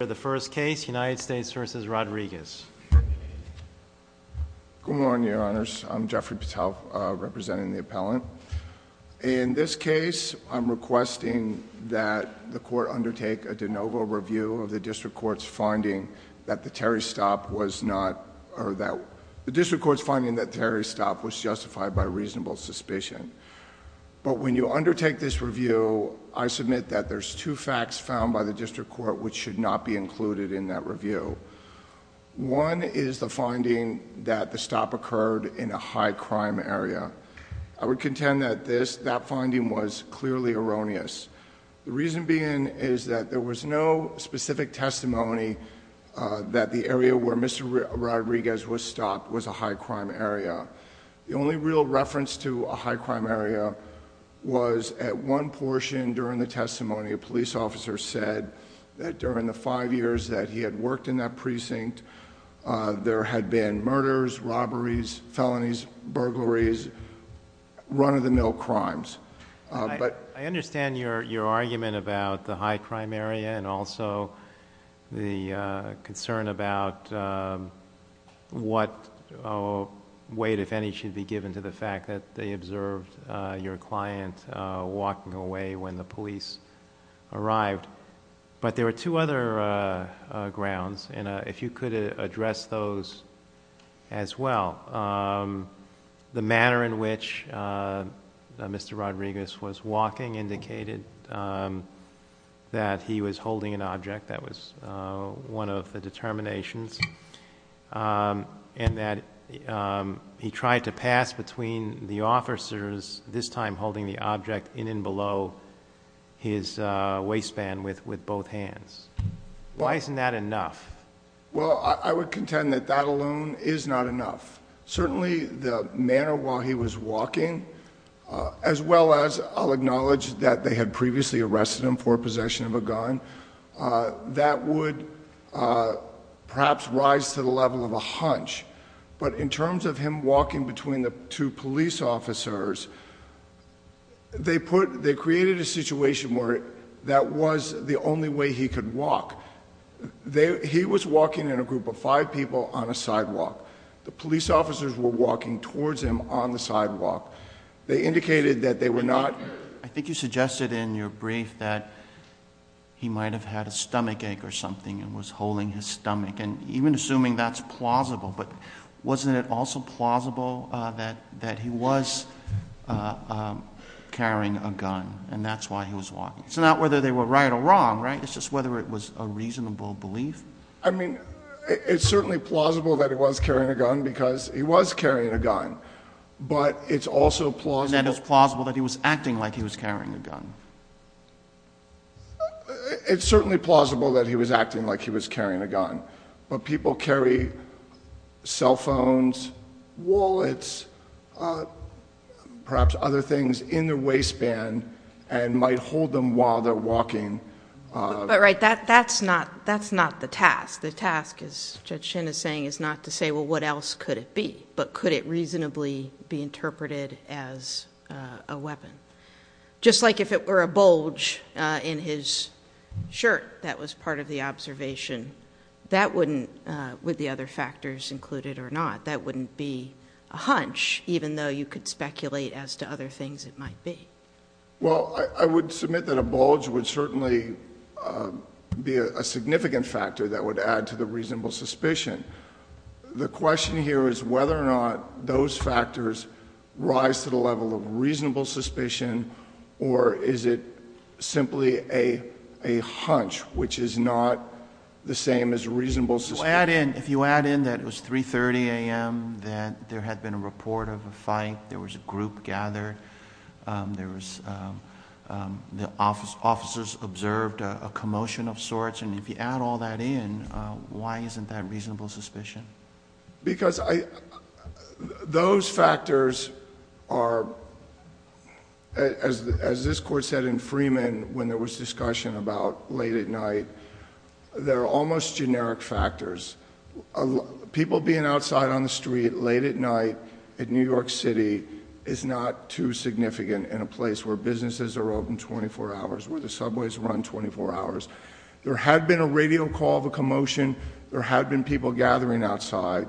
Good morning, Your Honors. I'm Jeffrey Patel, representing the appellant. In this case, I'm requesting that the court undertake a de novo review of the District Court's finding that the Terry stop was justified by reasonable suspicion. But when you undertake this review, I submit that there's two facts found by the District Court which should not be included in that review. One is the finding that the stop occurred in a high-crime area. I would contend that that finding was clearly erroneous. The reason being is that there was no specific testimony that the area where Mr. Rodriguez was stopped was a high-crime area. The only real reference to a high-crime area was at one portion during the testimony, a police officer said that during the five years that he had worked in that precinct, there had been murders, robberies, felonies, burglaries, run-of-the-mill crimes. I understand your argument about the high-crime area and also the concern about what weight, if any, should be given to the fact that they observed your client walking away when the police arrived. But there are two other grounds, and if you could address those as well. The manner in which Mr. Rodriguez was walking indicated that he was holding an object. That was one of the determinations. And that he tried to pass between the officers, this time holding the object in and below his waistband with both hands. Why isn't that enough? Well, I would contend that that alone is not enough. Certainly the manner while he was walking, as well as I'll acknowledge that they had previously arrested him for possession of a gun, that would perhaps rise to the level of a hunch. But in terms of him walking between the two police officers, they created a situation where that was the only way he could walk. He was walking in a group of five people on a sidewalk. The police officers were walking towards him on the sidewalk. They indicated that they were not... He might have had a stomachache or something and was holding his stomach. And even assuming that's plausible, but wasn't it also plausible that he was carrying a gun and that's why he was walking? It's not whether they were right or wrong, right? It's just whether it was a reasonable belief? I mean, it's certainly plausible that he was carrying a gun because he was carrying a gun. But it's also plausible... It's certainly plausible that he was acting like he was carrying a gun. But people carry cell phones, wallets, perhaps other things in their waistband and might hold them while they're walking. But, right, that's not the task. The task, as Judge Shin is saying, is not to say, well, what else could it be? But could it reasonably be interpreted as a weapon? Just like if it were a bulge in his shirt that was part of the observation, that wouldn't... would the other factors include it or not? That wouldn't be a hunch, even though you could speculate as to other things it might be. Well, I would submit that a bulge would certainly be a significant factor that would add to the reasonable suspicion. The question here is whether or not those factors rise to the question. Is it simply a hunch, which is not the same as reasonable suspicion? If you add in that it was 3.30 a.m., that there had been a report of a fight, there was a group gathered, there was... the officers observed a commotion of sorts, and if you add all that in, why isn't that reasonable suspicion? Because those factors are... as this Court said in Freeman when there was discussion about late at night, they're almost generic factors. People being outside on the street late at night in New York City is not too significant in a place where businesses are open twenty-four hours, where the subways run twenty-four hours. There had been a radio call of a commotion, there had been people gathering outside,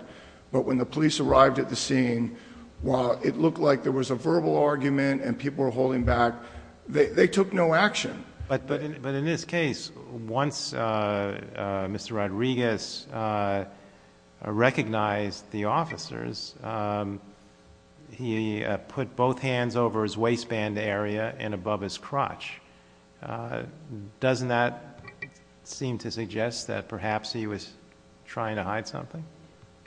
but when the police arrived at the scene, while it looked like there was a verbal argument and people were holding back, they took no action. But in this case, once Mr. Rodriguez recognized the officers, he put both hands over his waistband area and above his crotch. Doesn't that seem to suggest that perhaps he was trying to hide something?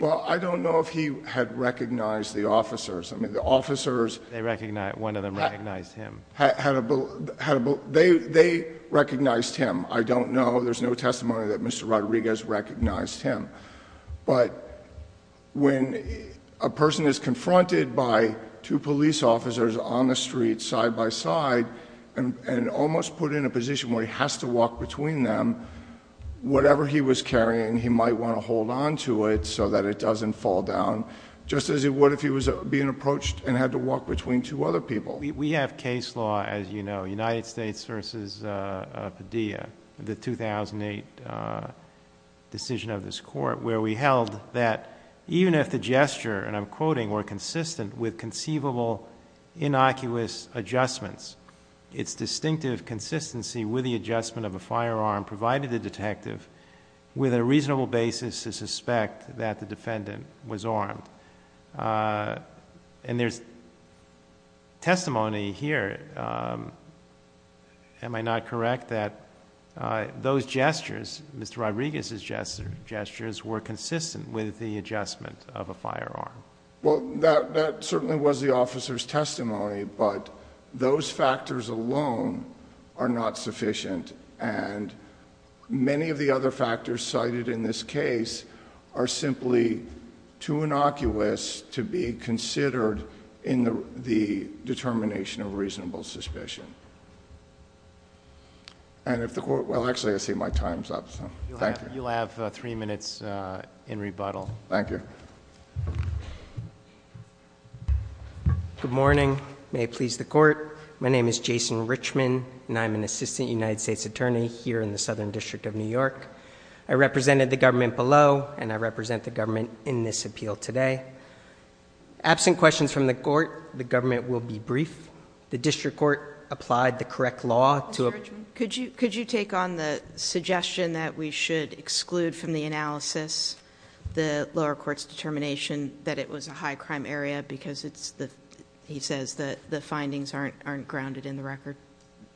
Well, I don't know if he had recognized the officers. I mean, the officers... They recognized... one of them recognized him. They recognized him. I don't know. There's no testimony that Mr. Rodriguez recognized him. But when a person is confronted by two police officers on the street side-by-side and almost put in a position where he has to walk between them, whatever he was carrying, he might want to hold onto it so that it doesn't fall down, just as he would if he was being approached and had to walk between two other people. We have case law, as you know, United States v. Padilla, the 2008 decision of this court, where we held that even if the gesture, and I'm quoting, were consistent with conceivable innocuous adjustments, its distinctive consistency with the adjustment of a firearm provided the detective with a reasonable basis to suspect that the defendant was armed. And there's testimony here, am I not correct, that those gestures, Mr. Rodriguez's gestures, were consistent with the adjustment of a firearm? Well, that certainly was the officer's testimony, but those factors alone are not sufficient. And many of the other factors cited in this case are simply too innocuous to be considered in the determination of reasonable suspicion. And if the court, well, actually, I see my time's up. You'll have three minutes in rebuttal. Thank you. Good morning. May it please the court. My name is Jason Richman, and I'm an assistant United States attorney here in the Southern District of New York. I represented the government below, and I represent the government in this appeal today. Absent questions from the court, the government will be brief. The district court applied the correct law to- Mr. Richman, could you take on the suggestion that we should exclude from the analysis the lower court's determination that it was a high crime area because it's the, he says, the findings aren't grounded in the record?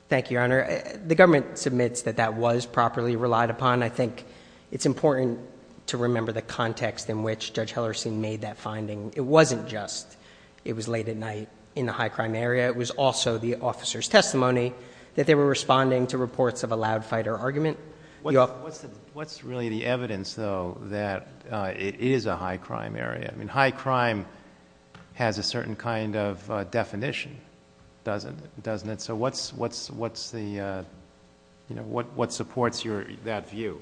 Thank you, Your Honor. The government submits that that was properly relied upon. I think it's important to remember the context in which Judge Hellerstein made that finding. It wasn't just it was late at night in the high crime area. It was also the officer's testimony that they were responding to reports of a loud fighter argument. What's really the evidence, though, that it is a high crime area? I mean, high crime has a certain kind of definition, doesn't it? So what's the, you know, what supports that view?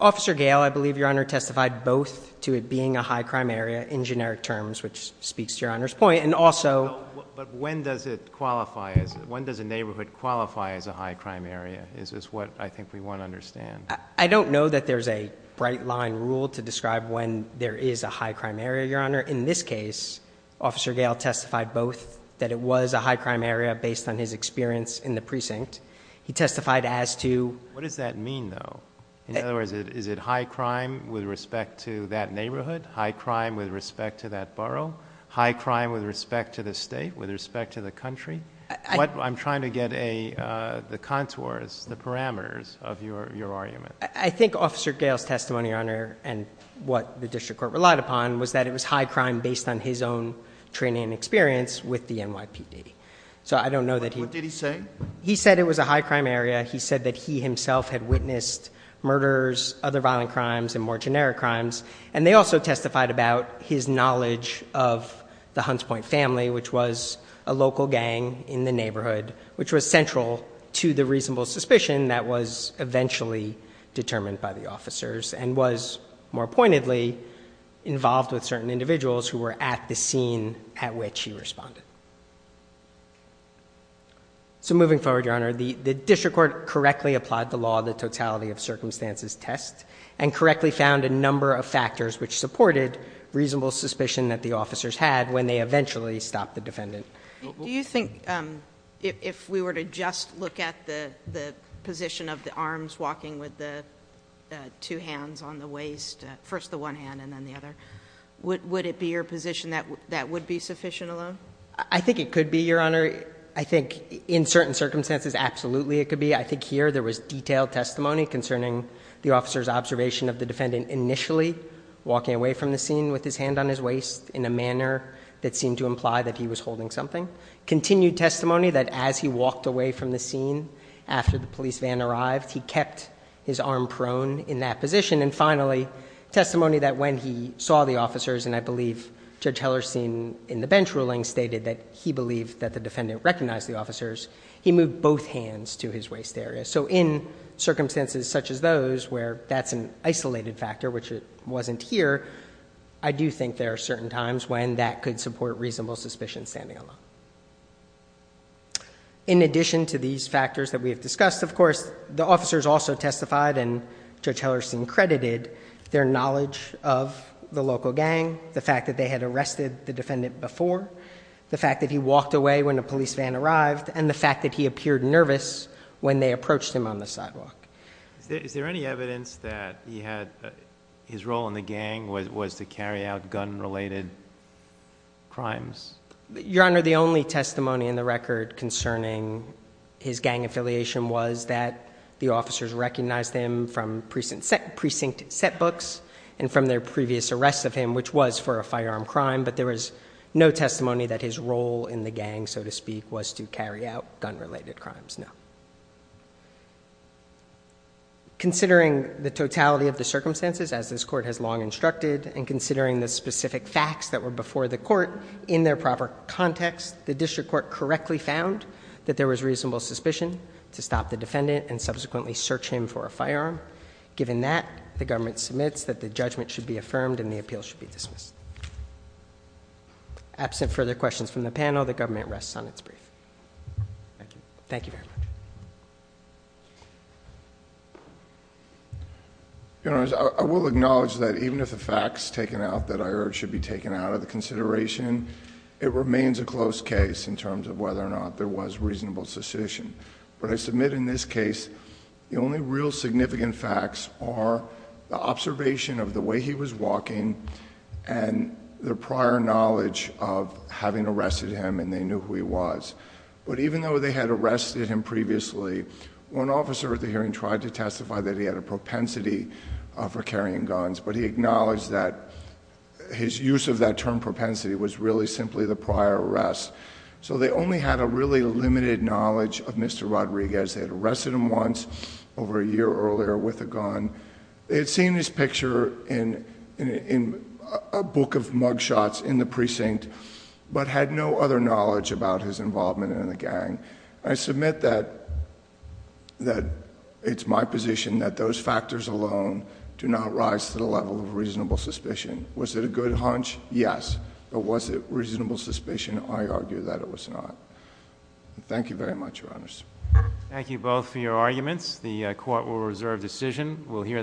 Officer Gale, I believe, Your Honor, testified both to it being a high crime area in generic terms, which speaks to Your Honor's point, and also- But when does it qualify as, when does a neighborhood qualify as a high crime area? Is this what I think we want to understand? I don't know that there's a bright line rule to describe when there is a high crime area, Your Honor. In this case, Officer Gale testified both that it was a high crime area based on his experience in the precinct. He testified as to- What does that mean, though? In other words, is it high crime with respect to that neighborhood, high crime with respect to that borough, high crime with respect to the state, with respect to the country? I'm trying to get the contours, the parameters of your argument. I think Officer Gale's testimony, Your Honor, and what the district court relied upon was that it was high crime based on his own training and experience with the NYPD. So I don't know that he- What did he say? He said it was a high crime area. He said that he himself had witnessed murders, other violent crimes, and more generic crimes. And they also testified about his knowledge of the Hunts Point family, which was a local gang in the neighborhood, which was central to the reasonable suspicion that was eventually determined by the officers and was, more pointedly, involved with certain individuals who were at the scene at which he responded. So moving forward, Your Honor, the district court correctly applied the law, the totality of circumstances test, and correctly found a number of factors which supported reasonable suspicion that the officers had when they eventually stopped the defendant. Do you think if we were to just look at the position of the arms walking with the two hands and then the other, would it be your position that that would be sufficient alone? I think it could be, Your Honor. I think in certain circumstances, absolutely it could be. I think here there was detailed testimony concerning the officer's observation of the defendant initially walking away from the scene with his hand on his waist in a manner that seemed to imply that he was holding something. Continued testimony that as he walked away from the scene after the police van arrived, he kept his arm prone in that position. And that when he saw the officers, and I believe Judge Hellerstein in the bench ruling stated that he believed that the defendant recognized the officers, he moved both hands to his waist area. So in circumstances such as those where that's an isolated factor, which wasn't here, I do think there are certain times when that could support reasonable suspicion standing alone. In addition to these factors that we have discussed, of course, the officers also testified and Judge Hellerstein credited their knowledge of the local gang, the fact that they had arrested the defendant before, the fact that he walked away when a police van arrived, and the fact that he appeared nervous when they approached him on the sidewalk. Is there any evidence that he had, his role in the gang was to carry out gun-related crimes? Your Honor, the only testimony in the record concerning his gang affiliation was that the police arrested him from precinct set books and from their previous arrest of him, which was for a firearm crime, but there was no testimony that his role in the gang, so to speak, was to carry out gun-related crimes, no. Considering the totality of the circumstances, as this Court has long instructed, and considering the specific facts that were before the Court in their proper context, the District Court correctly found that there was reasonable suspicion to stop the defendant and subsequently search him for a firearm. Given that, the government submits that the judgment should be affirmed and the appeal should be dismissed. Absent further questions from the panel, the government rests on its brief. Thank you very much. Your Honor, I will acknowledge that even if the facts taken out that I heard should be taken out of the consideration, it remains a close case in terms of whether or not there was reasonable suspicion. But I submit in this case, the only real significant facts are the observation of the way he was walking and the prior knowledge of having arrested him and they knew who he was. But even though they had arrested him previously, one officer at the hearing tried to testify that he had a propensity for carrying guns, but he acknowledged that his use of that term propensity was really simply the prior arrest. So they only had a really limited knowledge of Mr. Rodriguez. They had arrested him once over a year earlier with a gun. They had seen his picture in a book of mugshots in the precinct, but had no other knowledge about his involvement in the gang. I submit that it's my position that those factors alone do not rise to the level of reasonable suspicion. Was it a good hunch? Yes. But was it reasonable suspicion? I argue that it was not. Thank you very much, Your Honors. Thank you both for your arguments. The court will reserve decision.